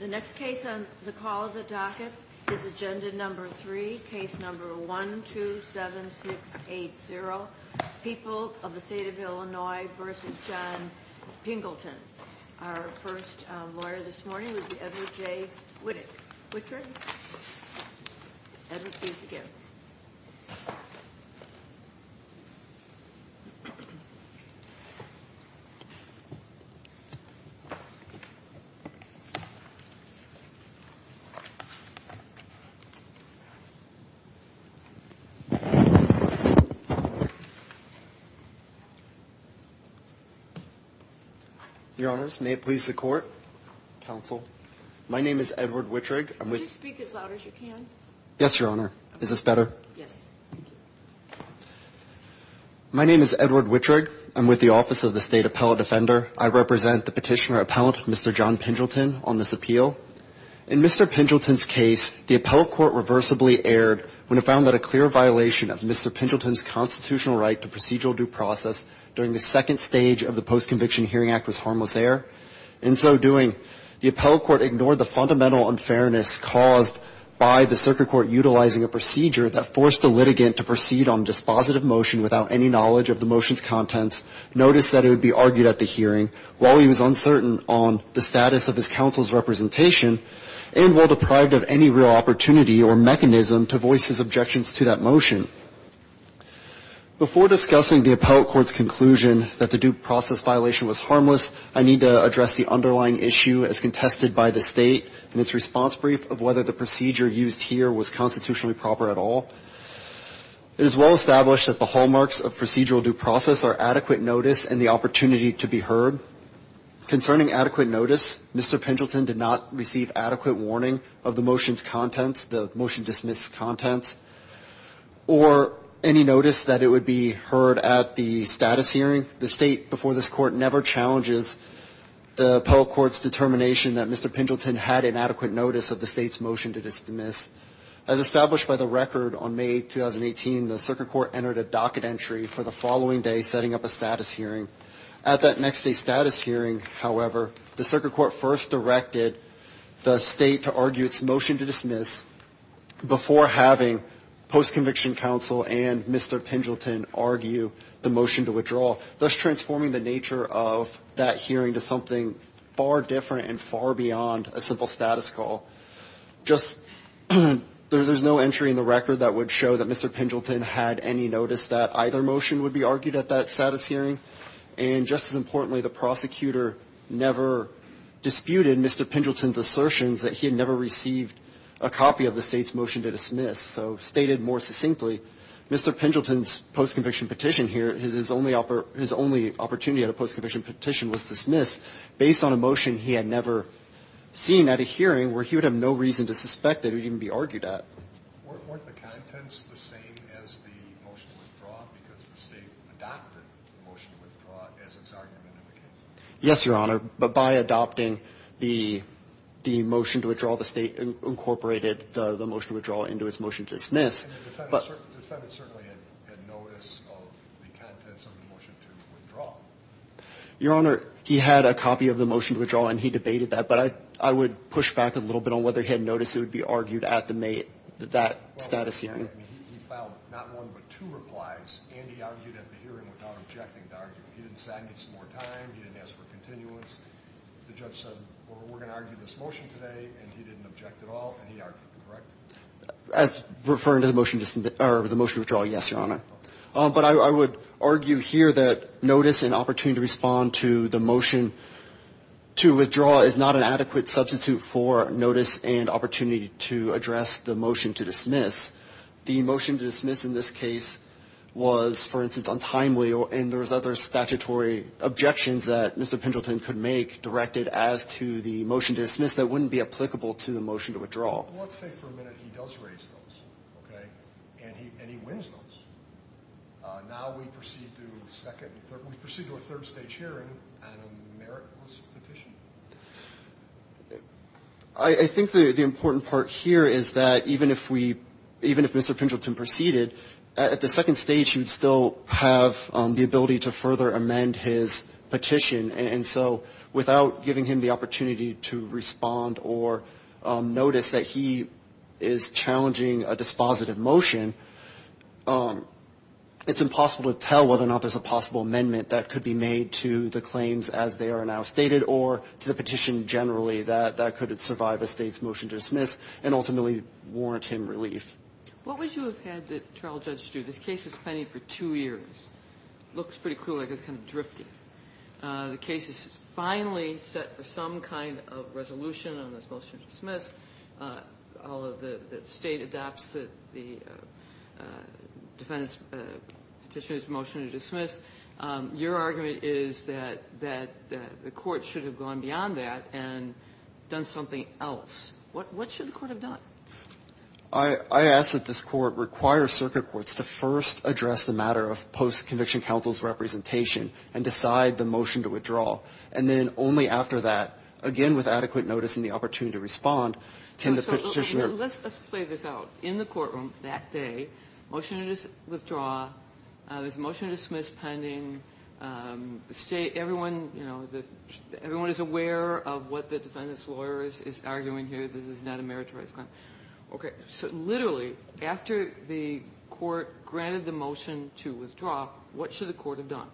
The next case on the call of the docket is agenda number 3, case number 127680, People of the State of Illinois v. John Pingleton. Our first lawyer this morning will be Edward J. Wittig. Edward, please begin. Your honors, may it please the court, counsel, my name is Edward Wittig. Could you speak as loud as you can? Yes, your honor. Is this better? Yes. Thank you. My name is Edward Wittig. I'm with the Office of the State Appellate Defender. I represent the petitioner-appellant, Mr. John Pingleton, on this appeal. In Mr. Pingleton's case, the appellate court reversibly erred when it found that a clear violation of Mr. Pingleton's constitutional right to procedural due process during the second stage of the Post-Conviction Hearing Act was harmless error. In so doing, the appellate court ignored the fundamental unfairness caused by the circuit court utilizing a procedure that forced the litigant to proceed on dispositive motion without any knowledge of the motion's contents, noticed that it would be argued at the hearing while he was uncertain on the status of his counsel's representation, and while deprived of any real opportunity or mechanism to voice his objections to that motion. Before discussing the appellate court's conclusion that the due process violation was harmless, I need to address the underlying issue as contested by the State in its response brief of whether the procedure used here was constitutionally proper at all. It is well established that the hallmarks of procedural due process are adequate notice and the opportunity to be heard. Concerning adequate notice, Mr. Pingleton did not receive adequate warning of the motion's contents, the motion dismissed contents, or any notice that it would be heard at the status hearing. The State, before this court, never challenges the appellate court's determination that Mr. Pingleton had inadequate notice of the State's motion to dismiss. As established by the record, on May 2018, the circuit court entered a docket entry for the following day setting up a status hearing. At that next day's status hearing, however, the circuit court first directed the State to argue its motion to dismiss before having post-conviction counsel and Mr. Pingleton argue the motion to withdraw, thus transforming the nature of that hearing to something far different and far beyond a simple status call. Just there's no entry in the record that would show that Mr. Pingleton had any notice that either motion would be argued at that status hearing. And just as importantly, the prosecutor never disputed Mr. Pingleton's assertions that he had never received a copy of the State's motion to dismiss. So stated more succinctly, Mr. Pingleton's post-conviction petition here, his only opportunity at a post-conviction petition was dismissed based on a motion he had never seen at a hearing where he would have no reason to suspect it would even be argued at. Weren't the contents the same as the motion to withdraw because the State adopted the motion to withdraw as its argument in the case? Yes, Your Honor. But by adopting the motion to withdraw, the State incorporated the motion to withdraw into its motion to dismiss. And the defendant certainly had notice of the contents of the motion to withdraw. Your Honor, he had a copy of the motion to withdraw, and he debated that. But I would push back a little bit on whether he had notice it would be argued at that status hearing. He filed not one but two replies, and he argued at the hearing without objecting to arguing. He didn't say I need some more time. He didn't ask for continuance. The judge said, well, we're going to argue this motion today, and he didn't object at all, and he argued. Correct? As referring to the motion to withdraw, yes, Your Honor. But I would argue here that notice and opportunity to respond to the motion to withdraw is not an adequate substitute for notice and opportunity to address the motion to dismiss. The motion to dismiss in this case was, for instance, untimely, and there was other statutory objections that Mr. Pendleton could make directed as to the motion to dismiss that wouldn't be applicable to the motion to withdraw. Well, let's say for a minute he does raise those, okay, and he wins those. Now we proceed to a third stage hearing and a meritless petition. I think the important part here is that even if Mr. Pendleton proceeded, at the second stage he would still have the ability to further amend his petition. And so without giving him the opportunity to respond or notice that he is challenging a dispositive motion, it's impossible to tell whether or not there's a possible amendment that could be made to the claims as they are now stated or to the petition generally that that could survive a State's motion to dismiss and ultimately warrant him relief. What would you have had the trial judge do? This case was pending for two years. It looks pretty clear like it's kind of drifting. The case is finally set for some kind of resolution on this motion to dismiss. All of the State adopts the defendant's petitioner's motion to dismiss. Your argument is that the court should have gone beyond that and done something else. What should the court have done? I ask that this Court require circuit courts to first address the matter of post-conviction counsel's representation and decide the motion to withdraw. And then only after that, again with adequate notice and the opportunity to respond, can the petitioner ---- Let's play this out. In the courtroom that day, motion to withdraw. There's a motion to dismiss pending. Everyone is aware of what the defendant's lawyer is arguing here. This is not a meritorious claim. Okay. So literally, after the court granted the motion to withdraw, what should the court have done?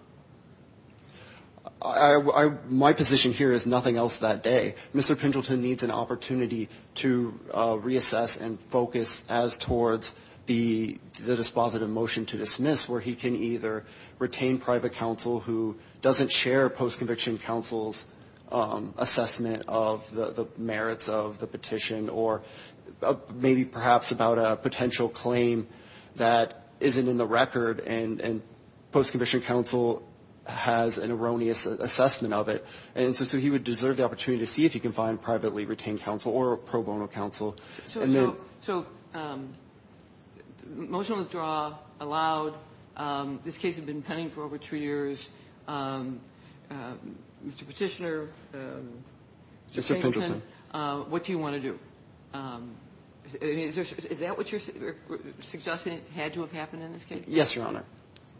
My position here is nothing else that day. Mr. Pendleton needs an opportunity to reassess and focus as towards the dispositive motion to dismiss, where he can either retain private counsel who doesn't share post-conviction counsel's assessment of the merits of the petition or maybe perhaps about a potential claim that isn't in the record and post-conviction counsel has an erroneous assessment of it. And so he would deserve the opportunity to see if he can find privately retained counsel or pro bono counsel. So motion to withdraw allowed. This case had been pending for over two years. Mr. Petitioner, Mr. Pendleton, what do you want to do? Is that what you're suggesting had to have happened in this case? Yes, Your Honor.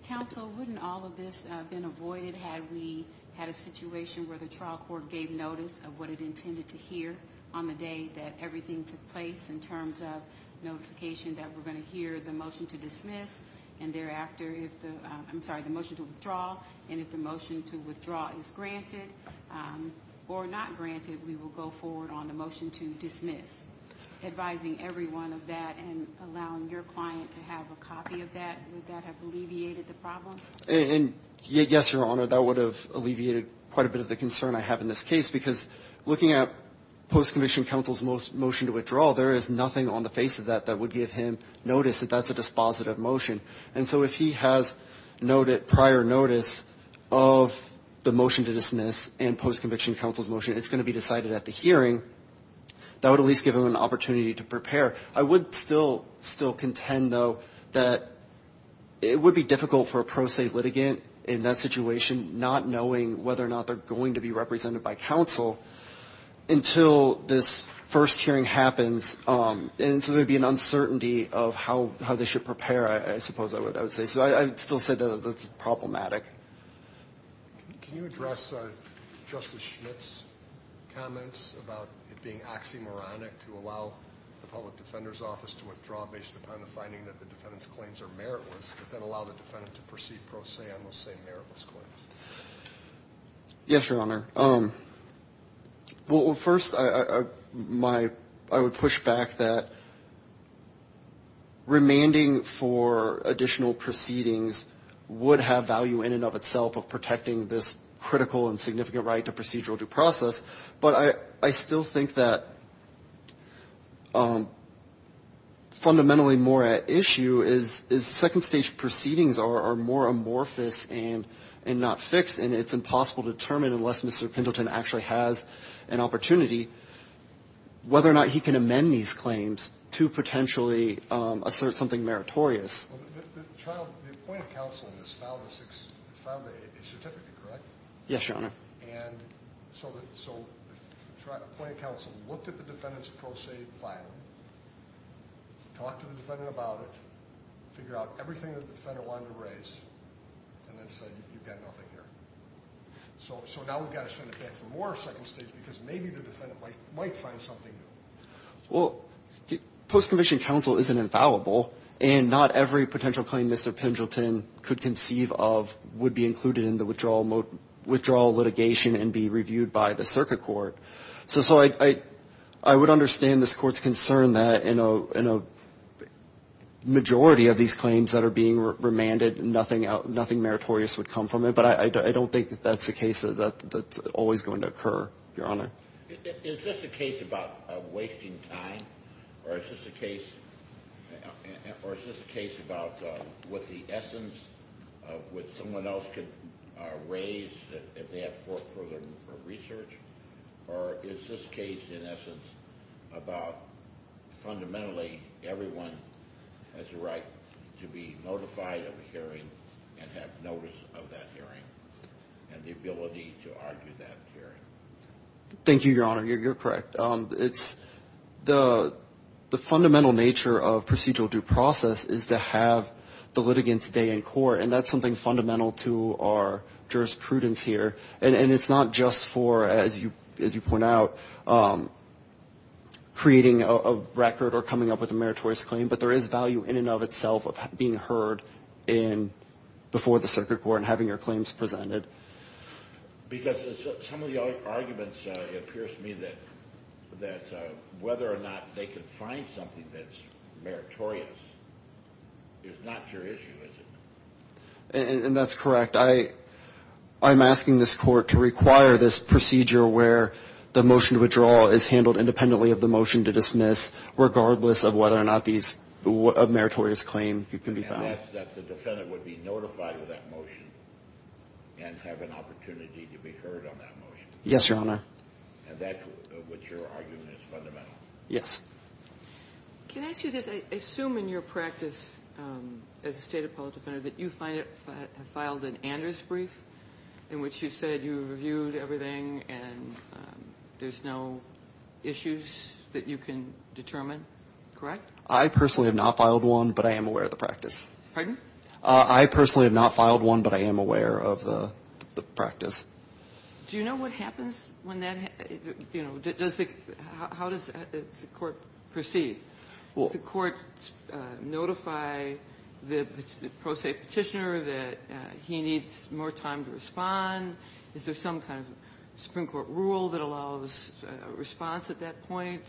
Counsel, wouldn't all of this have been avoided had we had a situation where the trial court gave notice of what it intended to hear on the day that everything took place in terms of notification that we're going to hear the motion to dismiss and thereafter if the ‑‑ I'm sorry, the motion to withdraw, and if the motion to withdraw is granted or not granted, we will go forward on the motion to dismiss, advising everyone of that and allowing your client to have a copy of that. Would that have alleviated the problem? Yes, Your Honor, that would have alleviated quite a bit of the concern I have in this case because looking at post-conviction counsel's motion to withdraw, there is nothing on the face of that that would give him notice that that's a dispositive motion. And so if he has prior notice of the motion to dismiss and post-conviction counsel's motion, it's going to be decided at the hearing, that would at least give him an opportunity to prepare. I would still contend, though, that it would be difficult for a pro se litigant in that situation, not knowing whether or not they're going to be represented by counsel until this first hearing happens. And so there would be an uncertainty of how they should prepare, I suppose I would say. So I would still say that that's problematic. Can you address Justice Schmidt's comments about it being oxymoronic to allow the public defender's office to withdraw based upon the finding that the defendant's claims are meritless but then allow the defendant to proceed pro se on those same meritless claims? Yes, Your Honor. Well, first, I would push back that remanding for additional proceedings would have value in and of itself of protecting this critical and significant right to procedural due process. But I still think that fundamentally more at issue is second-stage proceedings are more amorphous and not fixed, and it's impossible to determine unless Mr. Pendleton actually has an opportunity whether or not he can amend these claims to potentially assert something meritorious. The appointed counsel in this filed a certificate, correct? Yes, Your Honor. And so the appointed counsel looked at the defendant's pro se filing, talked to the defendant about it, figured out everything the defendant wanted to raise, and then said, you've got nothing here. So now we've got to send it back for more second-stage because maybe the defendant might find something new. Well, post-conviction counsel isn't infallible, and not every potential claim Mr. Pendleton could conceive of would be included in the withdrawal litigation and be reviewed by the circuit court. So I would understand this Court's concern that in a majority of these claims that are being remanded, nothing meritorious would come from it, but I don't think that that's the case that's always going to occur, Your Honor. Is this a case about wasting time, or is this a case about what the essence of what someone else could raise if they have further research? Or is this case in essence about fundamentally everyone has a right to be notified of a hearing and have notice of that hearing and the ability to argue that hearing? Thank you, Your Honor. You're correct. The fundamental nature of procedural due process is to have the litigants stay in court, and that's something fundamental to our jurisprudence here. And it's not just for, as you point out, creating a record or coming up with a meritorious claim, but there is value in and of itself of being heard before the circuit court and having your claims presented. Because some of the arguments, it appears to me, that whether or not they can find something that's meritorious is not your issue, is it? And that's correct. I'm asking this court to require this procedure where the motion to withdraw is handled independently of the motion to dismiss, regardless of whether or not these meritorious claims can be found. And that the defendant would be notified of that motion and have an opportunity to be heard on that motion. Yes, Your Honor. And that's what your argument is fundamental? Yes. Can I ask you this? I assume in your practice as a State Appellate Defender that you filed an Anders brief in which you said you reviewed everything and there's no issues that you can determine, correct? I personally have not filed one, but I am aware of the practice. Pardon? I personally have not filed one, but I am aware of the practice. Do you know what happens when that, you know, how does the court proceed? Does the court notify the pro se petitioner that he needs more time to respond? Is there some kind of Supreme Court rule that allows a response at that point?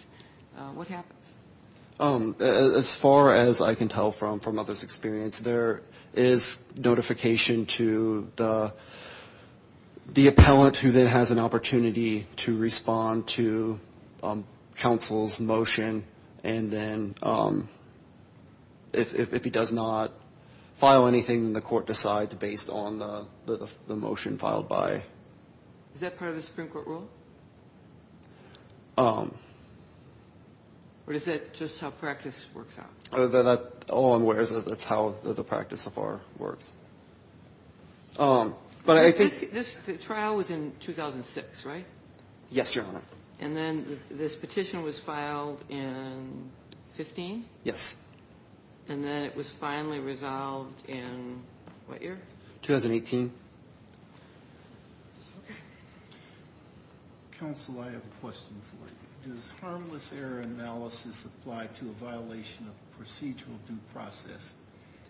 What happens? As far as I can tell from others' experience, there is notification to the appellant who then has an opportunity to respond to counsel's motion and then if he does not file anything, the court decides based on the motion filed by. Is that part of the Supreme Court rule? Or is that just how practice works out? That's how the practice so far works. But I think. The trial was in 2006, right? Yes, Your Honor. And then this petition was filed in 15? Yes. And then it was finally resolved in what year? 2018. Counsel, I have a question for you. Does harmless error analysis apply to a violation of procedural due process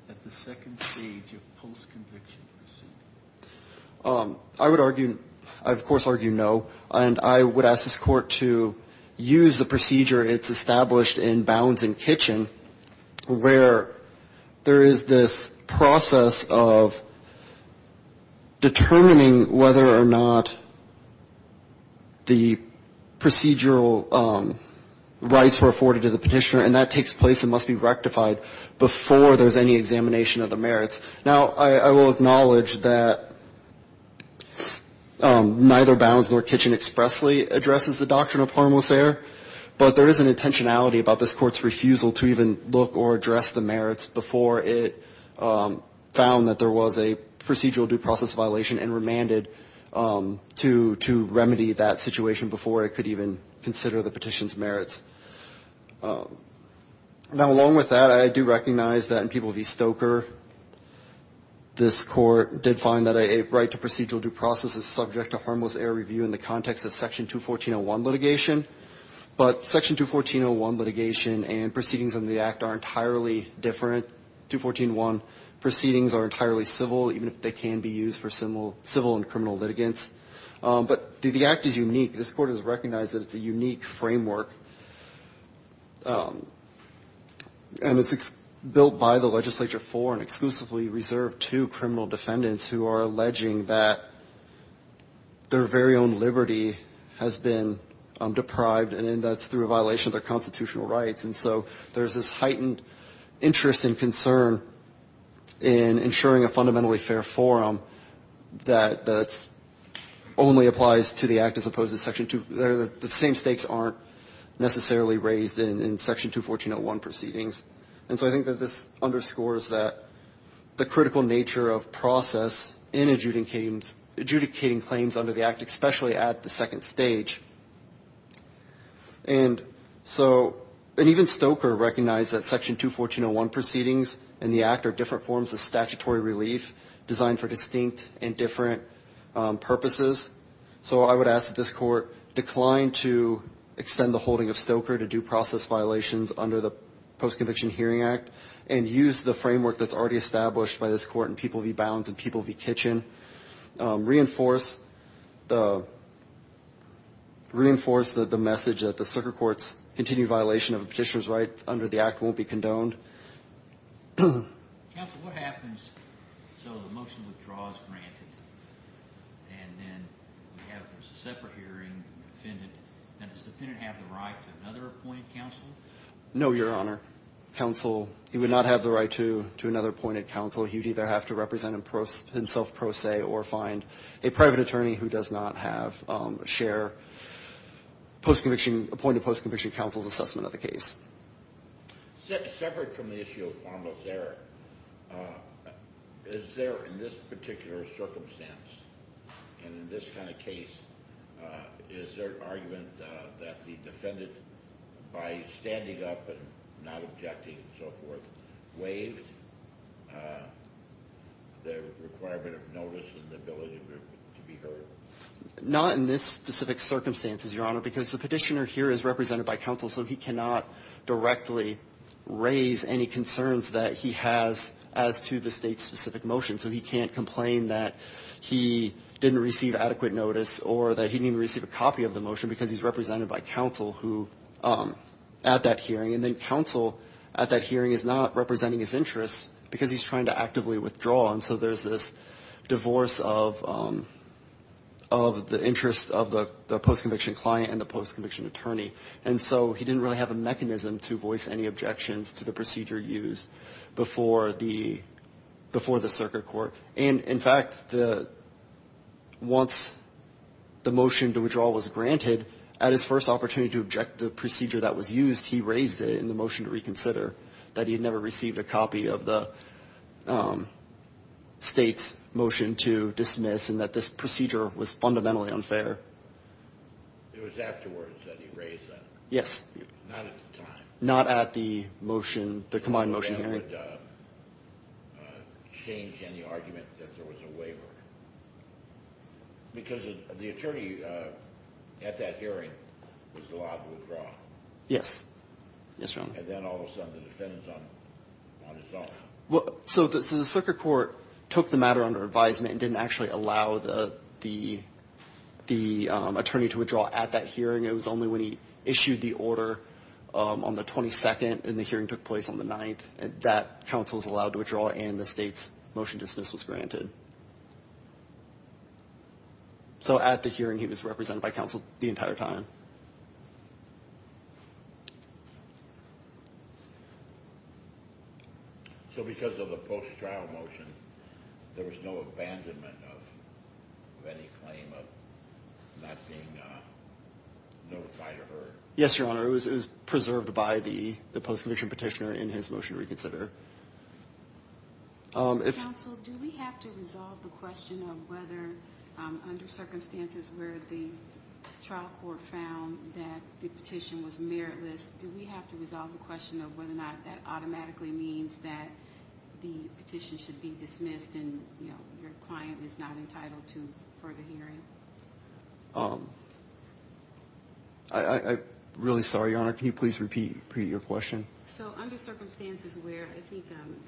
at the second stage of post-conviction procedure? I would argue, I of course argue no. And I would ask this Court to use the procedure it's established in Bounds and Kitchen where there is this process of determining whether or not the procedural rights were afforded to the Petitioner and that takes place and must be rectified before there's any examination of the merits. Now, I will acknowledge that neither Bounds nor Kitchen expressly addresses the doctrine of harmless error, but there is an intentionality about this Court's refusal to even look or address the merits before it found that there was a procedural due process violation and remanded to remedy that situation before it could even consider the petition's merits. Now, along with that, I do recognize that in People v. Stoker, this Court did find that a right to procedural due process is subject to harmless error review in the context of Section 214.01 litigation. But Section 214.01 litigation and proceedings in the Act are entirely different. 214.01 proceedings are entirely civil, even if they can be used for civil and criminal litigants. But the Act is unique. This Court has recognized that it's a unique framework, and it's built by the legislature for and exclusively reserved to criminal defendants who are alleging that their very own liberty has been deprived, and that's through a violation of their constitutional rights, and so there's this heightened interest and concern in ensuring a fundamentally fair forum that only applies to the Act as opposed to Section 214.01. The same stakes aren't necessarily raised in Section 214.01 proceedings. And so I think that this underscores that the critical nature of process in adjudicating claims under the Act, especially at the second stage. And so, and even Stoker recognized that Section 214.01 proceedings in the Act are different forms of statutory relief designed for distinct and different purposes. So I would ask that this Court decline to extend the holding of Stoker to due process violations under the Post-Conviction Hearing Act and use the framework that's already established by this Court in People v. Bounds and People v. Kitchen. Reinforce the message that the Stoker Court's continued violation of a petitioner's rights to another appointed counsel. He would either have to represent himself pro se or find a private attorney who does not have a shared post-conviction, appointed post-conviction counsel's assessment of the case. Separate from the issue of formal error, is there in this particular circumstance and in this kind of case, is there an argument that the defendant, by standing up and not objecting and so forth, waived the requirement of notice and the ability to be heard? Not in this specific circumstance, Your Honor, because the petitioner here is represented by counsel, so he cannot directly raise any concerns that he has as to the State's specific motion. So he can't complain that he didn't receive adequate notice or that he didn't receive a copy of the motion because he's represented by counsel who, at that hearing, and then counsel at that hearing is not representing his interests because he's trying to actively withdraw. And so there's this divorce of the interests of the post-conviction client and the post-conviction attorney. And so he didn't really have a mechanism to voice any objections to the procedure used before the circuit court. And, in fact, once the motion to withdraw was granted, at his first opportunity to object the procedure that was used, he raised it in the motion to reconsider that he had never received a copy of the State's motion to dismiss and that this procedure was fundamentally unfair. It was afterwards that he raised that? Yes. Not at the time? Not at the motion, the combined motion hearing. So the circuit court took the matter under advisement and didn't actually allow the attorney to withdraw at that hearing. It was only when he issued the order on the 22nd and the hearing took place on the 9th that counsel was allowed to withdraw and the State's motion to dismiss was granted. So at the hearing, he was represented by counsel the entire time. So because of the post-trial motion, there was no abandonment of any claim of not being notified or heard? Yes, Your Honor. It was preserved by the post-conviction petitioner in his motion to reconsider. Counsel, do we have to resolve the question of whether, under circumstances where the trial court found that the petition was meritless, do we have to resolve the question of whether or not that automatically means that the petition should be dismissed and your client is not entitled to further hearing? I'm really sorry, Your Honor. Can you please repeat your question? So under circumstances where, I think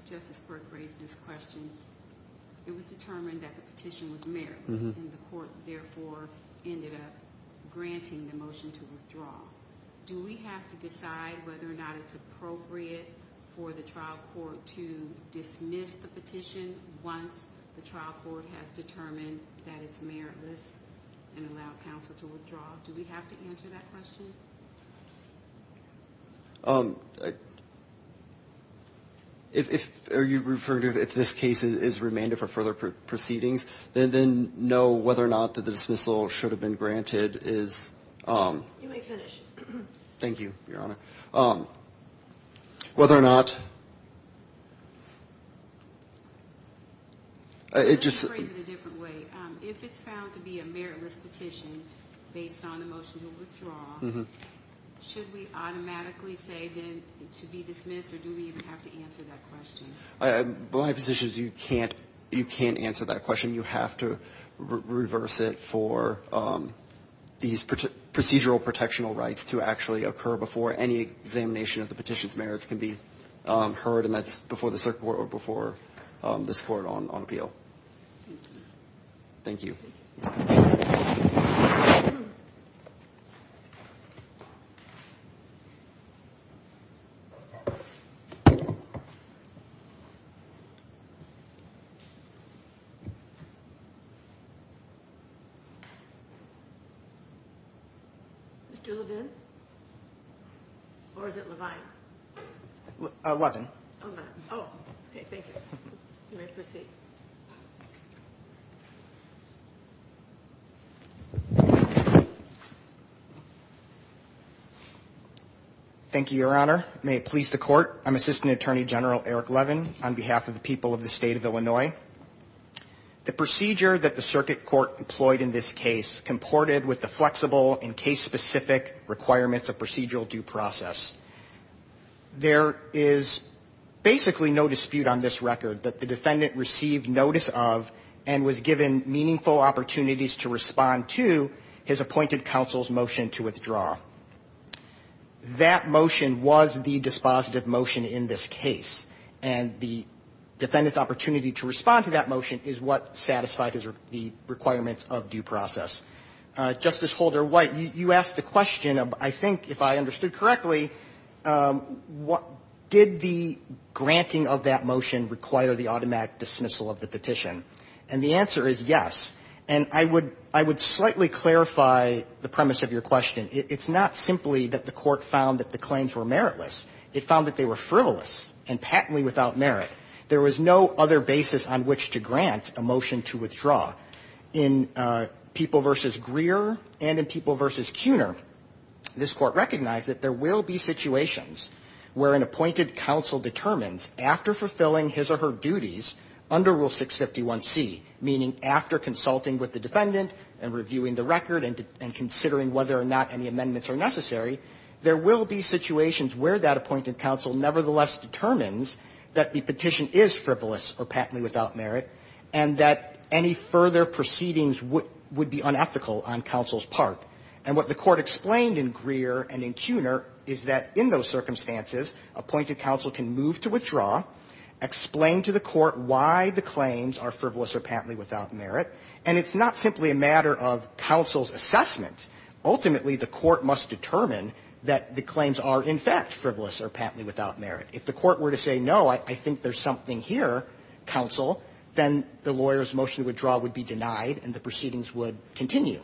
Justice Burke raised this question, it was determined that the petition was meritless and the court therefore ended up granting the motion to withdraw. Do we have to decide whether or not it's appropriate for the trial court to dismiss the petition once the trial court has determined that it's meritless and allowed counsel to withdraw? Do we have to answer that question? If this case is remanded for further proceedings, then whether or not the dismissal should have been granted is... You may finish. Thank you, Your Honor. Whether or not... Let's phrase it a different way. If it's found to be a meritless petition based on the motion to withdraw, should we automatically say then it should be dismissed or do we even have to answer that question? My position is you can't answer that question. You have to reverse it for these procedural protectional rights to actually occur before any examination of the petition's merits can be heard, and that's before the circuit court or before this court on appeal. Thank you. Mr. Levin? Or is it Levine? Levin. Thank you, Your Honor. May it please the court. I'm Assistant Attorney General Eric Levin on behalf of the people of the state of Illinois. The procedure that the circuit court employed in this case comported with the flexible and case-specific requirements of procedural due process. There is basically no dispute on this record that the defendant received notice of and was given meaningful opportunities to respond to his appointed counsel's motion to withdraw. That motion was the dispositive motion in this case, and the defendant's opportunity to respond to that motion is what satisfied the requirements of due process. Justice Holder-White, you asked the question of, I think, if I understood correctly, did the granting of that motion require the automatic dismissal of the petition? And the answer is yes. And I would slightly clarify the premise of your question. It's not simply that the court found that the claims were meritless. It found that they were frivolous and patently without merit. There was no other basis on which to grant a motion to withdraw. In People v. Greer and in People v. Cuner, this Court recognized that there will be situations where an appointed counsel determines, after fulfilling his or her duties under Rule 651C, meaning after consulting with the defendant and reviewing the record and considering whether or not any amendments are necessary, there will be situations where that appointed counsel nevertheless determines that the petition is frivolous or patently without merit and that any further proceedings would be unethical on counsel's part. And what the Court explained in Greer and in Cuner is that in those circumstances, appointed counsel can move to withdraw, explain to the court why the claims are frivolous or patently without merit, and it's not simply a matter of counsel's assessment. Ultimately, the court must determine that the claims are, in fact, frivolous or patently without merit. If the court were to say, no, I think there's something here, counsel, then the lawyer's motion to withdraw would be denied and the proceedings would continue.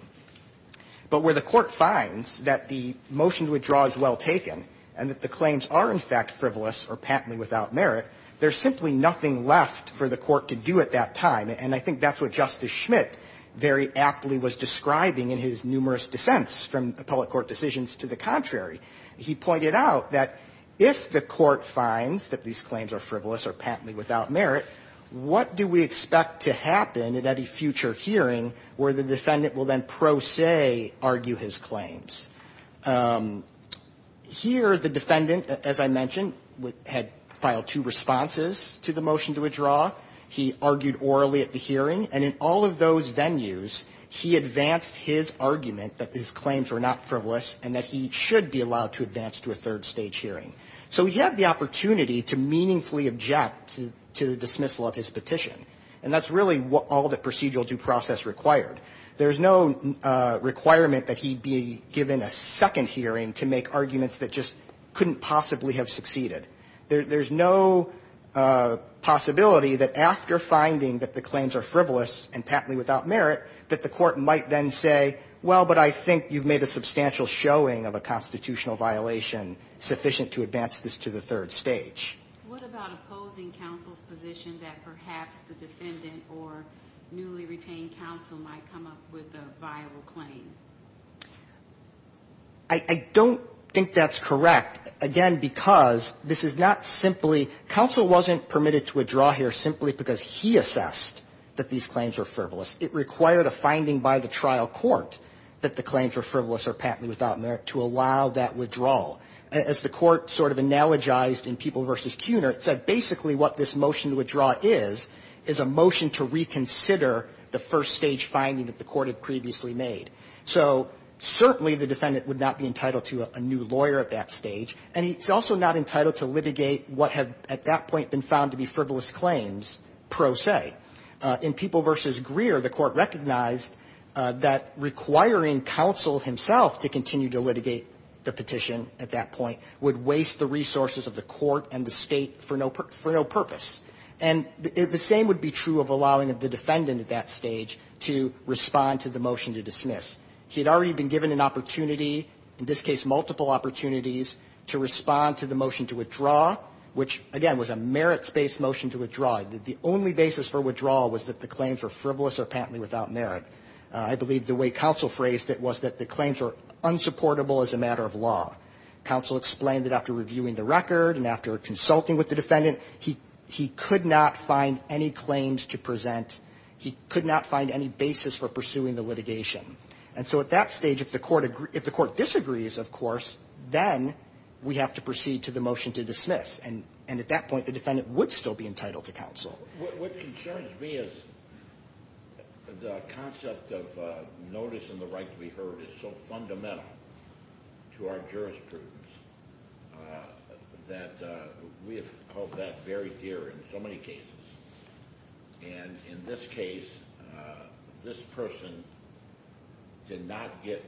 But where the court finds that the motion to withdraw is well taken and that the claims are, in fact, frivolous or patently without merit, there's simply nothing left for the court to do at that time. And I think that's what Justice Schmitt very aptly was describing in his numerous dissents from appellate court decisions to the contrary. He pointed out that if the court finds that these claims are frivolous or patently without merit, what do we expect to happen at any future hearing where the defendant will then pro se argue his claims? Here, the defendant, as I mentioned, had filed two responses to the motion to withdraw. He argued orally at the hearing. And in all of those venues, he advanced his argument that his claims were not frivolous and that he should be allowed to advance to a third stage hearing. So he had the opportunity to meaningfully object to the dismissal of his petition. And that's really what all the procedural due process required. There's no requirement that he be given a second hearing to make arguments that just couldn't possibly have succeeded. There's no possibility that after finding that the claims are frivolous and patently without merit, that the court might then say, well, but I think you've made a substantial showing of a constitutional violation sufficient to advance this to the third stage. What about opposing counsel's position that perhaps the defendant or newly retained counsel might come up with a viable claim? I don't think that's correct. Again, because this is not simply – counsel wasn't permitted to withdraw here simply because he assessed that these claims were frivolous. It required a finding by the trial court that the claims were frivolous or patently without merit to allow that withdrawal. As the court sort of analogized in People v. Kunert said, basically what this motion to withdraw is, is a motion to reconsider the first stage finding that the court had previously made. So certainly the defendant would not be entitled to a new lawyer at that stage, and he's also not entitled to litigate what have at that point been found to be frivolous claims, pro se. In People v. Greer, the court recognized that requiring counsel himself to continue to litigate the petition at that point would waste the resources of the court and the State for no purpose. And the same would be true of allowing the defendant at that stage to respond to the witness. He had already been given an opportunity, in this case multiple opportunities, to respond to the motion to withdraw, which, again, was a merits-based motion to withdraw. The only basis for withdrawal was that the claims were frivolous or patently without merit. I believe the way counsel phrased it was that the claims were unsupportable as a matter of law. Counsel explained that after reviewing the record and after consulting with the defendant, he could not find any claims to present. He could not find any basis for pursuing the litigation. And so at that stage, if the court disagrees, of course, then we have to proceed to the motion to dismiss. And at that point, the defendant would still be entitled to counsel. What concerns me is the concept of notice and the right to be heard is so fundamental to our jurisprudence that we have held that very dear in so many cases. And in this case, this person did not get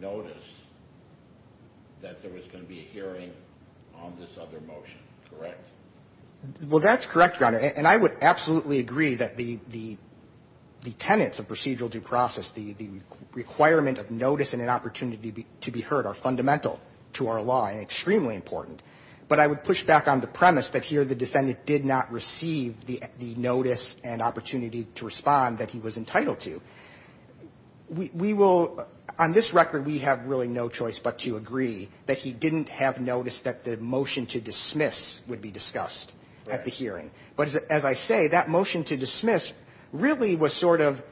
notice that there was going to be a hearing on this other motion, correct? Well, that's correct, Your Honor. And I would absolutely agree that the tenets of procedural due process, the requirement of notice and an opportunity to be heard are fundamental to our law and extremely important. But I would push back on the premise that here the defendant did not receive the notice and opportunity to respond that he was entitled to. We will, on this record, we have really no choice but to agree that he didn't have notice that the motion to dismiss would be discussed at the hearing. But as I say, that motion to dismiss really was sort of,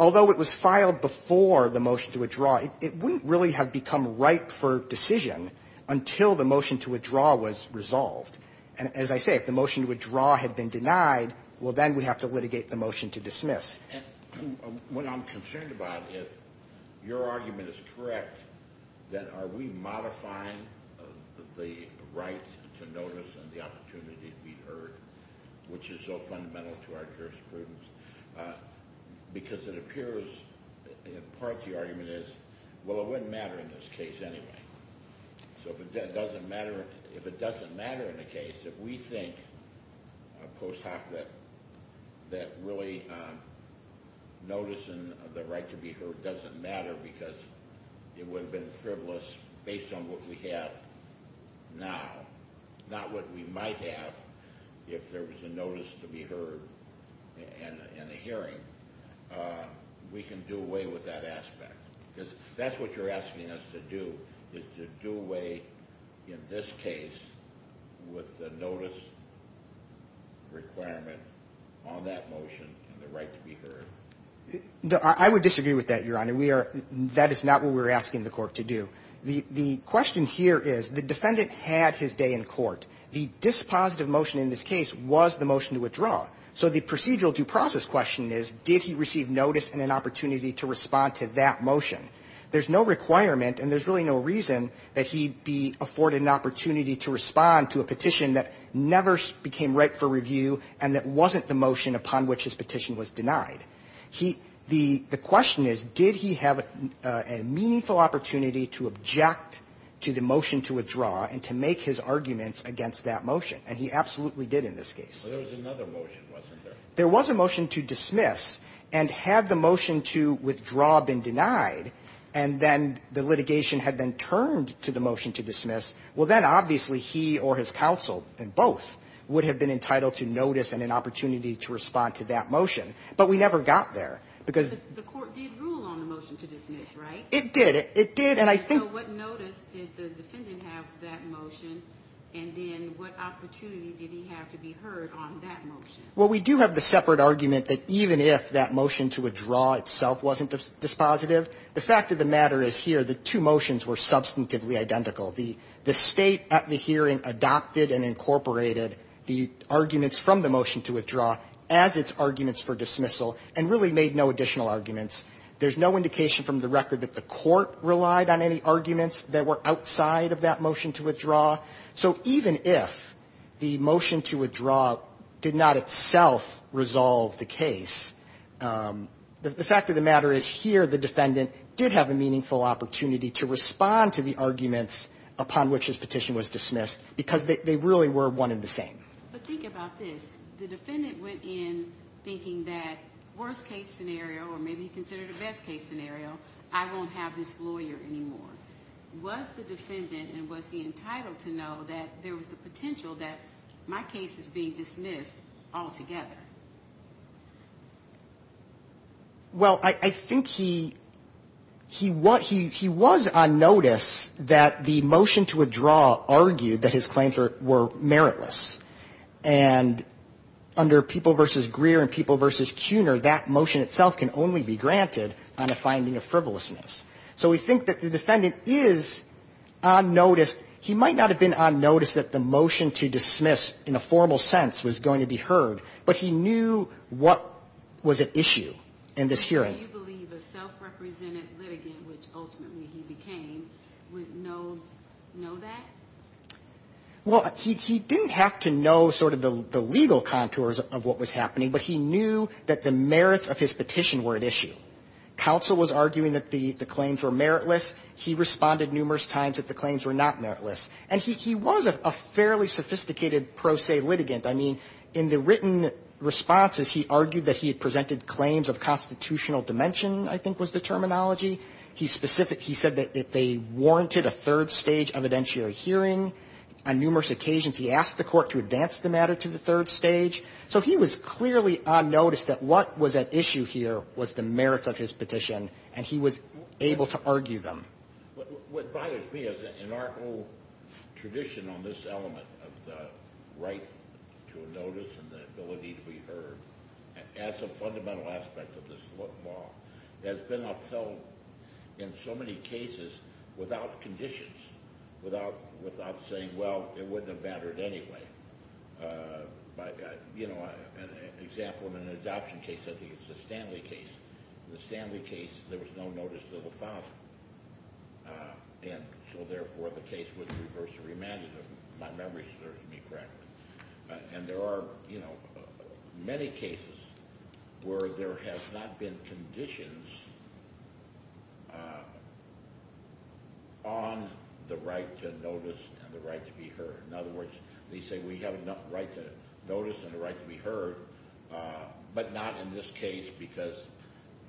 although it was filed before the motion to withdraw, it wouldn't really have become ripe for decision until the motion to withdraw was resolved. And as I say, if the motion to withdraw had been denied, well, then we have to litigate the motion to dismiss. And what I'm concerned about is your argument is correct that are we modifying the right to notice and the opportunity to be heard, which is so fundamental to our jurisprudence, because it appears, part of the argument is, well, it wouldn't matter in this case anyway. So if it doesn't matter in the case, if we think post hoc that really noticing the right to be heard doesn't matter because it would have been frivolous based on what we have now, not what we might have if there was a notice to be heard in a hearing, we can do away with that aspect. Because that's what you're asking us to do, is to do away in this case with the notice requirement on that motion and the right to be heard. I would disagree with that, Your Honor. That is not what we're asking the court to do. The question here is the defendant had his day in court. The dispositive motion in this case was the motion to withdraw. So the procedural due process question is did he receive notice and an opportunity to respond to that motion? There's no requirement and there's really no reason that he'd be afforded an opportunity to respond to a petition that never became right for review and that wasn't the motion upon which his petition was denied. The question is, did he have a meaningful opportunity to object to the motion to withdraw and to make his arguments against that motion? And he absolutely did in this case. There was another motion, wasn't there? There was a motion to dismiss and had the motion to withdraw been denied and then the litigation had been turned to the motion to dismiss, well, then obviously he or his counsel and both would have been entitled to notice and an opportunity to respond to that motion. But we never got there because The court did rule on the motion to dismiss, right? It did. It did and I think So what notice did the defendant have for that motion and then what opportunity did he have to be heard on that motion? Well, we do have the separate argument that even if that motion to withdraw itself wasn't dispositive, the fact of the matter is here the two motions were substantively identical. The State at the hearing adopted and incorporated the arguments from the motion to withdraw as its arguments for dismissal and really made no additional arguments. There's no indication from the record that the court relied on any arguments that were outside of that motion to withdraw. So even if the motion to withdraw did not itself resolve the case, the fact of the matter is here the defendant did have a meaningful opportunity to respond to the arguments upon which his petition was dismissed because they really were one and the same. But think about this. The defendant went in thinking that worst case scenario or maybe he considered a best case scenario, I won't have this lawyer anymore. Was the defendant and was he entitled to know that there was the potential that my case is being dismissed altogether? Well, I think he was on notice that the motion to withdraw argued that his claims were meritless. And under People v. Greer and People v. Cuner, that motion itself can only be granted on a finding of frivolousness. So we think that the defendant is on notice. He might not have been on notice that the motion to dismiss in a formal sense was going to be heard, but he knew what was at issue in this hearing. Do you believe a self-represented litigant, which ultimately he became, would know that? Well, he didn't have to know sort of the legal contours of what was happening, but he knew that the merits of his petition were at issue. Counsel was arguing that the claims were meritless. He responded numerous times that the claims were not meritless. And he was a fairly sophisticated pro se litigant. I mean, in the written responses, he argued that he had presented claims of constitutional dimension, I think was the terminology. He said that they warranted a third stage evidentiary hearing. On numerous occasions, he asked the court to advance the matter to the third stage. So he was clearly on notice that what was at issue here was the merits of his petition, and he was able to argue them. What bothers me is that in our whole tradition on this element of the right to a notice and the ability to be heard as a fundamental aspect of this law, has been upheld in so many cases without conditions, without saying, well, it wouldn't have mattered anyway. You know, an example in an adoption case, I think it's the Stanley case. In the Stanley case, there was no notice to the father. And so, therefore, the case was reversed or remanded. If my memory serves me correctly. And there are, you know, many cases where there has not been conditions on the right to notice and the right to be heard. In other words, they say we have a right to notice and a right to be heard, but not in this case because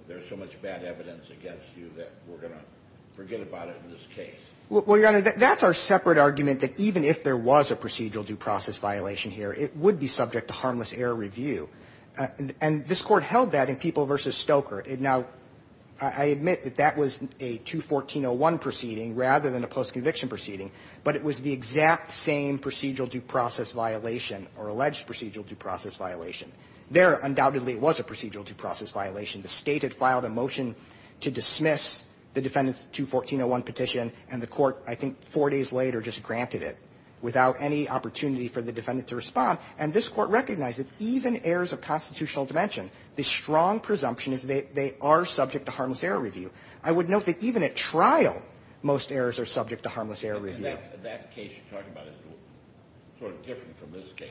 there's so much bad evidence against you that we're going to forget about it in this case. Well, Your Honor, that's our separate argument that even if there was a procedural due process violation here, it would be subject to harmless error review. And this Court held that in People v. Stoker. Now, I admit that that was a 214-01 proceeding rather than a post-conviction proceeding, but it was the exact same procedural due process violation or alleged procedural due process violation. There, undoubtedly, it was a procedural due process violation. The State had filed a motion to dismiss the defendant's 214-01 petition and the Court, I think four days later, just granted it without any opportunity for the defendant to respond. And this Court recognized that even errors of constitutional dimension, the strong presumption is that they are subject to harmless error review. I would note that even at trial, most errors are subject to harmless error review. That case you're talking about is sort of different from this case.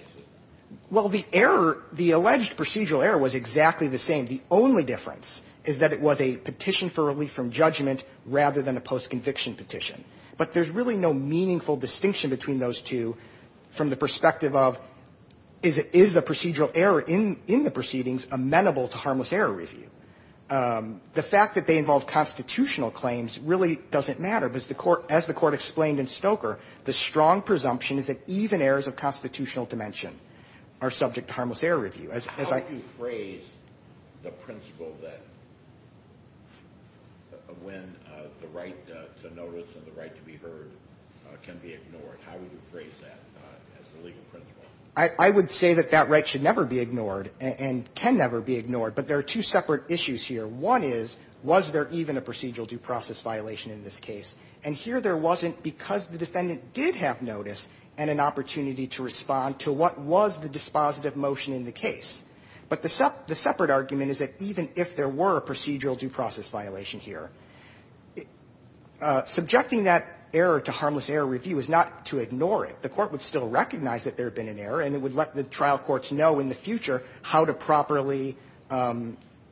Well, the error, the alleged procedural error was exactly the same. The only difference is that it was a petition for relief from judgment rather than a post-conviction petition. But there's really no meaningful distinction between those two from the perspective of is the procedural error in the proceedings amenable to harmless error review. The fact that they involve constitutional claims really doesn't matter because as the Court explained in Stoker, the strong presumption is that even errors of constitutional dimension are subject to harmless error review. How would you phrase the principle that when the right to notice and the right to be heard can be ignored? How would you phrase that as the legal principle? I would say that that right should never be ignored and can never be ignored. But there are two separate issues here. One is, was there even a procedural due process violation in this case? And here there wasn't because the defendant did have notice and an opportunity to respond to what was the dispositive motion in the case. But the separate argument is that even if there were a procedural due process violation here, subjecting that error to harmless error review is not to ignore it. The Court would still recognize that there had been an error and it would let the trial courts know in the future how to properly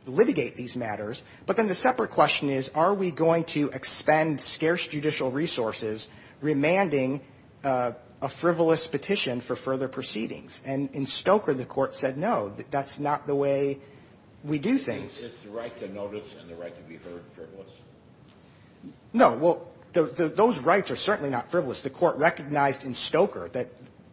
litigate these matters. But then the separate question is, are we going to expend scarce judicial resources remanding a frivolous petition for further proceedings? And in Stoker, the Court said no. That's not the way we do things. Is the right to notice and the right to be heard frivolous? No. Well, those rights are certainly not frivolous. The Court recognized in Stoker that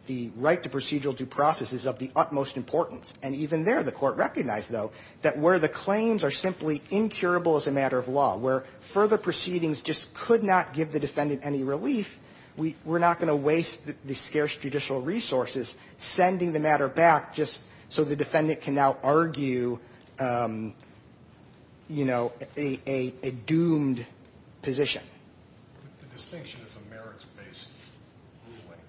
the right to procedural due process is of the utmost importance. And even there, the Court recognized, though, that where the claims are simply incurable as a matter of law, where further proceedings just could not give the defendant any relief, we're not going to waste the scarce judicial resources sending the matter back just so the defendant can now argue, you know, a doomed position. The distinction is a merits-based ruling.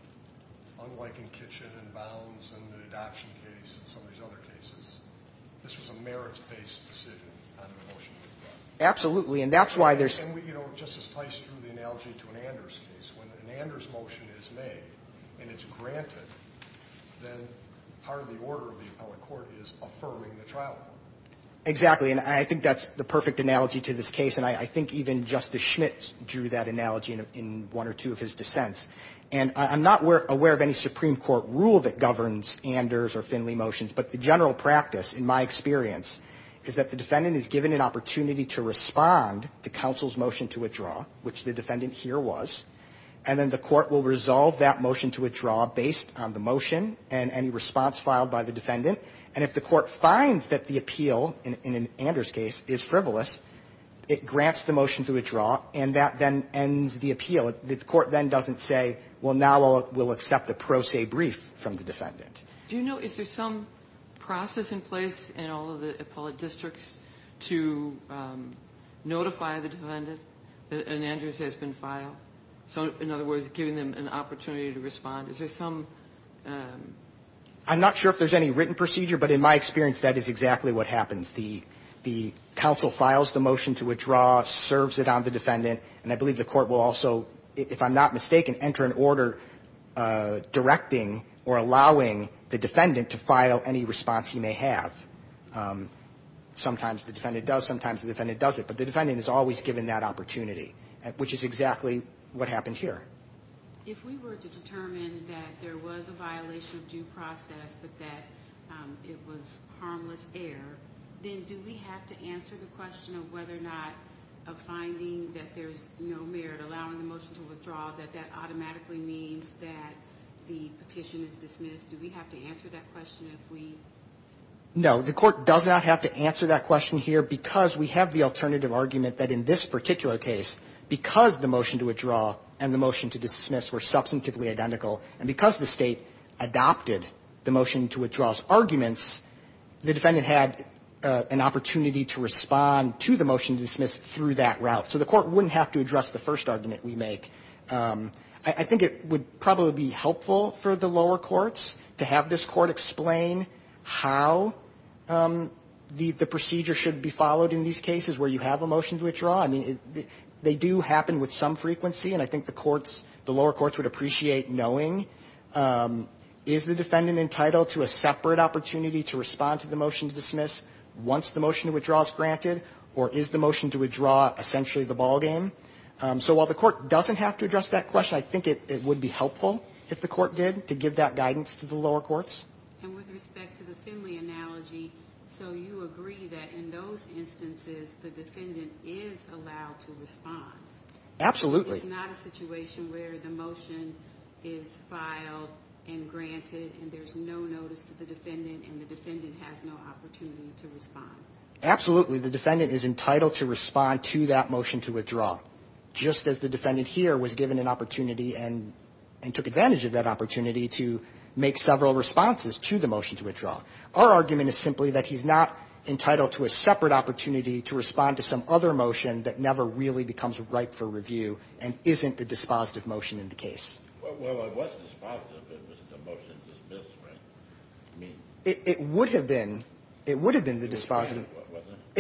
Unlike in Kitchen and Bounds and the adoption case and some of these other cases, this was a merits-based decision on the motion. Absolutely. And that's why there's... And, you know, Justice Tice drew the analogy to an Anders case. When an Anders motion is made and it's granted, then part of the order of the appellate court is affirming the trial court. Exactly. And I think that's the perfect analogy to this case. And I think even Justice Schmitt drew that analogy in one or two of his dissents. And I'm not aware of any Supreme Court rule that governs Anders or Finley motions, but the general practice, in my experience, is that the defendant is given an opportunity to respond to counsel's motion to withdraw, which the defendant here was, and then the court will resolve that motion to withdraw based on the motion and any response filed by the defendant. And if the court finds that the appeal, in an Anders case, is frivolous, it grants the motion to withdraw, and that then ends the appeal. The court then doesn't say, well, now we'll accept a pro se brief from the defendant. Do you know, is there some process in place in all of the appellate districts to notify the defendant that an Anders has been filed? So, in other words, giving them an opportunity to respond. Is there some... I'm not sure if there's any written procedure, but in my experience, that is exactly what happens. The counsel files the motion to withdraw, serves it on the defendant, and I believe the court will also, if I'm not mistaken, enter an order directing or allowing the defendant to file any response he may have. Sometimes the defendant does, sometimes the defendant doesn't, but the defendant is always given that opportunity, which is exactly what happened here. If we were to determine that there was a violation of due process, but that it was harmless error, then do we have to answer the question of whether or not a finding that there's no merit allowing the motion to withdraw, that that automatically means that the petition is dismissed? Do we have to answer that question if we... No, the court does not have to answer that question here because we have the alternative argument that in this particular case, because the motion to withdraw and the motion to dismiss were substantively identical, and because the state adopted the motion to withdraw's arguments, the defendant had an opportunity to respond to the motion to dismiss through that route. So the court wouldn't have to address the first argument we make. I think it would probably be helpful for the lower courts to have this court explain how the procedure should be followed in these cases where you have a motion to withdraw. I mean, they do happen with some frequency, and I think the courts, the lower courts would appreciate knowing to respond to the motion to dismiss once the motion to withdraw is granted, or is the motion to withdraw essentially the ballgame? So while the court doesn't have to address that question, I think it would be helpful if the court did to give that guidance to the lower courts. And with respect to the Finley analogy, so you agree that in those instances the defendant is allowed to respond? Absolutely. It's not a situation where the motion is filed and granted and there's no notice to the defendant and the defendant has no opportunity to respond? Absolutely. The defendant is entitled to respond to that motion to withdraw. Just as the defendant here was given an opportunity and took advantage of that opportunity to make several responses to the motion to withdraw. Our argument is simply that he's not entitled to a separate opportunity to respond to some other motion that never really becomes ripe for review and isn't the dispositive motion in the case. Well, it was dispositive if it was a motion to dismiss, right? It would have been. It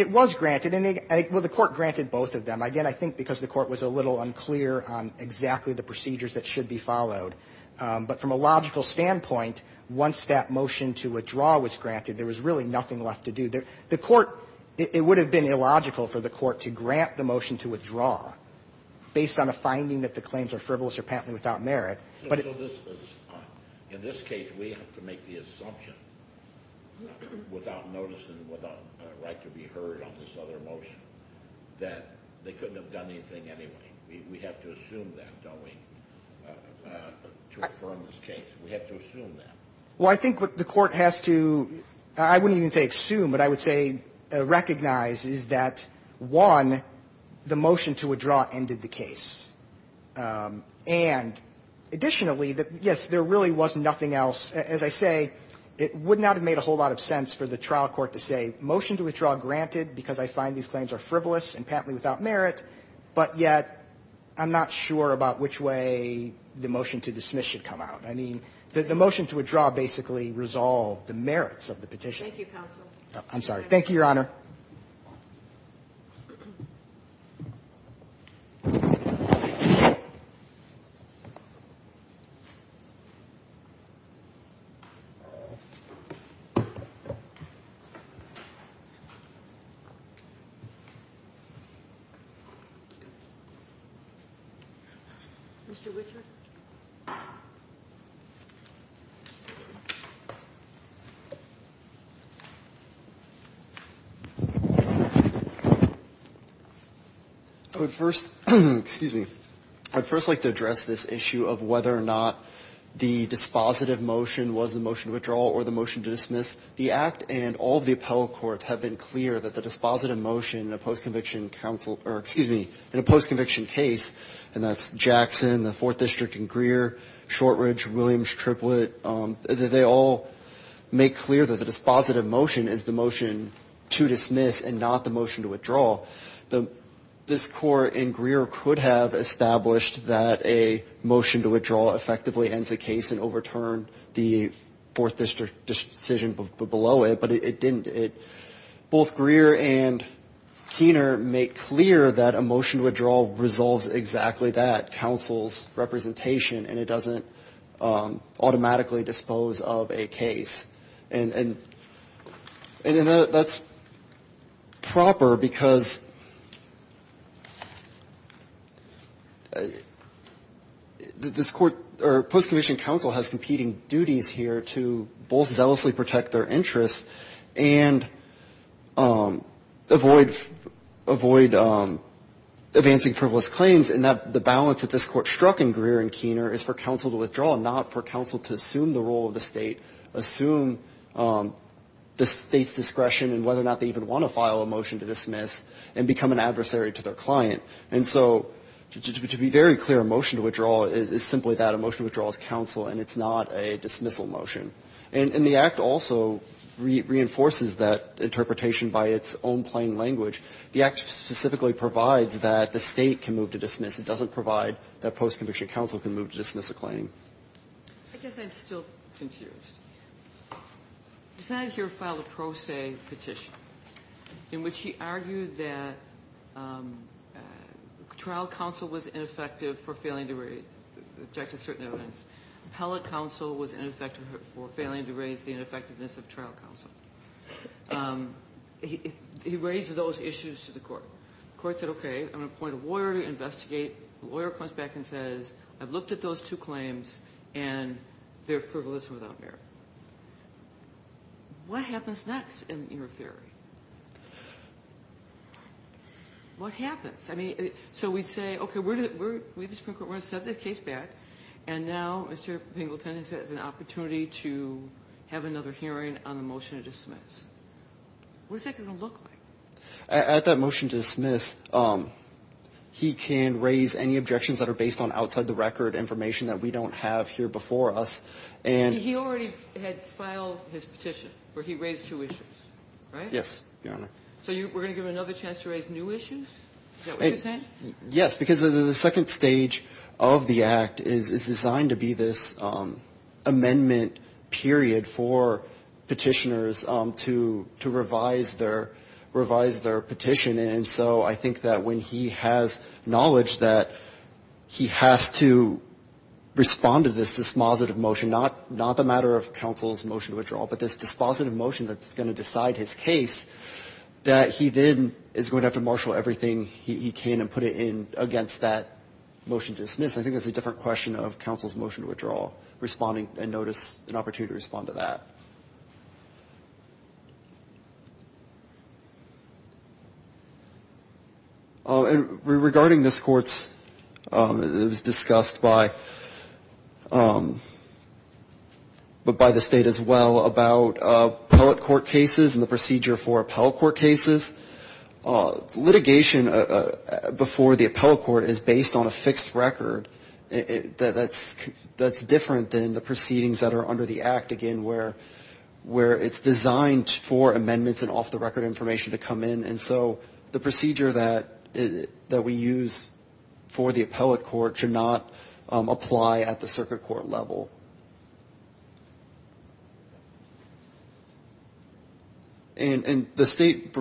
was granted. Well, the court granted both of them. Again, I think because the court was a little unclear on exactly the procedures that should be followed. But from a logical standpoint, once that motion to withdraw was granted, there was really nothing left to do. It would have been illogical for the court to grant the motion to withdraw based on a finding that the claims are frivolous or patently without merit. In this case, we have to make the assumption without notice and without a right to be heard on this other motion that they couldn't have done anything anyway. We have to assume that, don't we? To affirm this case, we have to assume that. Well, I think what the court has to, I wouldn't even say assume, but I would say recognize is that, one, the motion to withdraw ended the case. And additionally, yes, there really was nothing else. As I say, it would not have made a whole lot of sense for the trial court to say, motion to withdraw granted because I find these claims are frivolous and patently without merit, but yet I'm not sure about which way the motion to dismiss should come out. I mean, the motion to withdraw basically resolved the merits of the petition. Thank you, counsel. I'm sorry. Thank you, Your Honor. Mr. Richard? I would first, excuse me, I would first like to address this issue of whether or not the dispositive motion was the motion to withdraw or the motion to dismiss. The Act and all of the appellate courts have been clear that the dispositive motion in a post-conviction counsel, or excuse me, in a post-conviction case, and that's Jackson, the Fourth District in Greer, Shortridge, Williams, Triplett, they all make clear that the dispositive motion is the motion to dismiss and not the motion to withdraw. This Court in Greer could have established that a motion to withdraw effectively ends the case and overturned the Fourth District decision below it, but it didn't. Both Greer and Keener make clear that a motion to withdraw resolves exactly that, counsel's representation, and it doesn't automatically dispose of a case. And that's proper because this Court, or post-conviction counsel has competing duties here to both zealously protect their interests and avoid advancing frivolous claims, and the balance that this Court struck in Greer and Keener is for counsel to withdraw, not for counsel to assume the role of the state, assume the state's discretion and whether or not they even want to file a motion to dismiss and become an adversary to their client. And so to be very clear, a motion to withdraw is simply that a motion to withdraw is counsel and it's not a dismissal motion. And the Act also reinforces that interpretation by its own plain language. The Act specifically provides that the state can move to dismiss. It doesn't provide that post-conviction counsel can move to dismiss a claim. I guess I'm still confused. The defendant here filed a pro se petition in which he argued that trial counsel was ineffective for failing to raise the objective certain evidence. Appellate counsel was ineffective for failing to raise the ineffectiveness of trial counsel. He raised those issues to the Court. The Court said, okay, I'm going to appoint a lawyer to investigate. The lawyer comes back and says, I've looked at those two claims and they're frivolous and without merit. What happens next in your theory? What happens? So we'd say, okay, we're going to set this case back and now Mr. Pingleton has an opportunity to have another hearing on the motion to dismiss. What's that going to look like? At that motion to dismiss, he can raise any objections that are based on outside the record information that we don't have here before us. He already had filed his petition where he raised two issues, right? Yes, Your Honor. So we're going to give him another chance to raise new issues? Is that what you're saying? Yes, because the second stage of the Act is designed to be this amendment period for petitioners to revise their petition. And so I think that when he has knowledge that he has to respond to this dispositive motion, not the matter of counsel's motion to withdraw, but this dispositive motion that's going to decide his case, that he then is going to have to marshal everything he can and put it in against that motion to dismiss. I think that's a different question of counsel's motion to withdraw, responding and notice an opportunity to respond to that. Regarding this Court's... It was discussed by... But by the State as well about appellate court cases and the procedure for appellate court cases. Litigation before the appellate court is based on a fixed record that's different than the proceedings that are under the Act, again, where it's designed for amendments and off-the-record information to come in. And so the procedure that we use for the appellate court should not apply at the circuit court level. And the State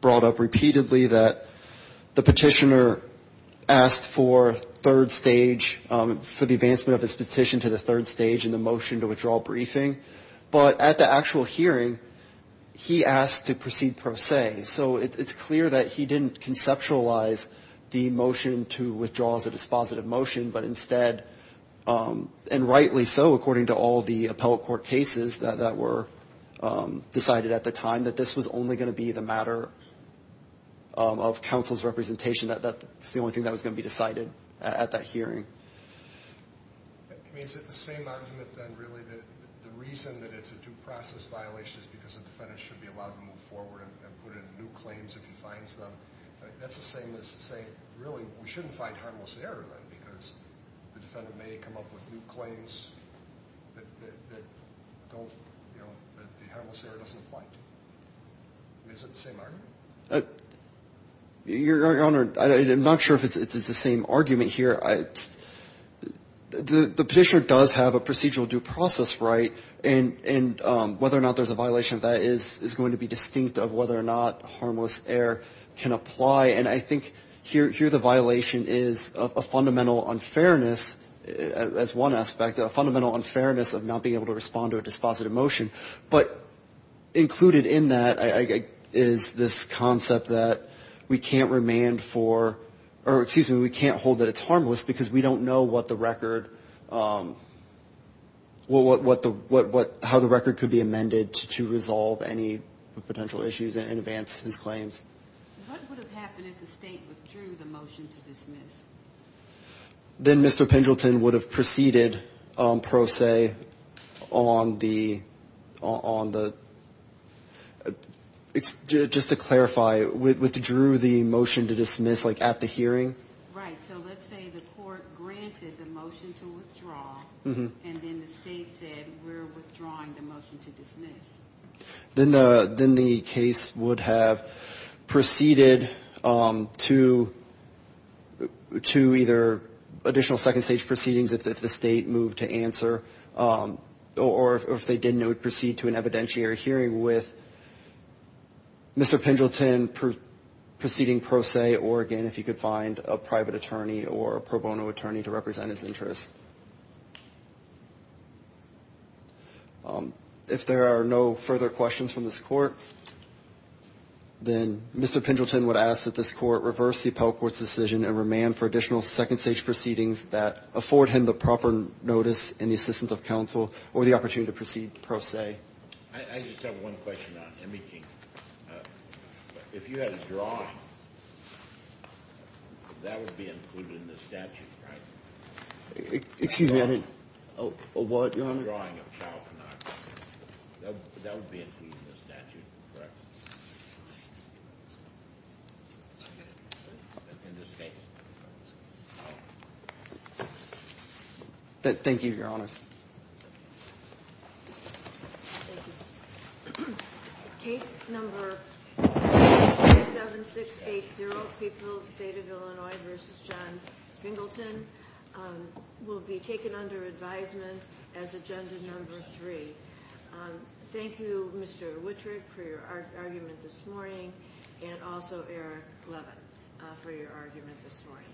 brought up repeatedly that the petitioner asked for third stage, for the advancement of his petition to the third stage and the motion to withdraw briefing. But at the actual hearing, he asked to proceed per se. So it's clear that he didn't conceptualize the motion to withdraw as a dispositive motion, but instead, and rightly so, according to all the appellate court cases that were decided at the time, that this was only going to be the matter of counsel's representation. That's the only thing that was going to be decided at that hearing. I mean, is it the same argument, then, really, that the reason that it's a due process violation is because a defendant should be allowed to move forward and put in new claims if he finds them? That's the same as saying, really, we shouldn't find harmless error, because the defendant may come up with new claims that don't, you know, that the harmless error doesn't apply to. Is it the same argument? Your Honor, I'm not sure if it's the same argument here. The petitioner does have a procedural due process right, and whether or not there's a violation of that is going to be distinct of whether or not harmless error can apply, and I think here the violation is a fundamental unfairness, as one aspect, a fundamental unfairness of not being able to respond to a dispositive motion, but included in that is this concept that we can't remand for, or excuse me, we can't hold that it's harmless because we don't know what the record, how the record could be amended to resolve any potential issues in advance of his claims. What would have happened if the state withdrew the motion to dismiss? Then Mr. Pendleton would have proceeded pro se on the on the just to clarify, withdrew the motion to dismiss at the hearing? Right, so let's say the court granted the motion to withdraw and then the state said we're withdrawing the motion to dismiss. Then the case would have proceeded to to either additional second stage proceedings if the state moved to answer or if they didn't it would proceed to an evidentiary hearing with Mr. Pendleton proceeding pro se or again if you could find a private attorney or a pro bono attorney to represent his interests. If there are no further questions from this court then Mr. Pendleton would ask that this court reverse the appellate court's decision and remand for additional second stage proceedings that afford him the proper notice and the assistance of counsel or the opportunity to proceed pro se. I just have one question on imaging. If you had a drawing that would be included in the statute, right? Excuse me, I didn't A what, your honor? That would be included in the statute, correct? In this case. Thank you, your honor. Case number 57680 Peoples State of Illinois v. John Pendleton will be taken under advisement as agenda number three. Thank you Mr. Wittrich for your argument this morning and also Eric Levin for your argument this morning.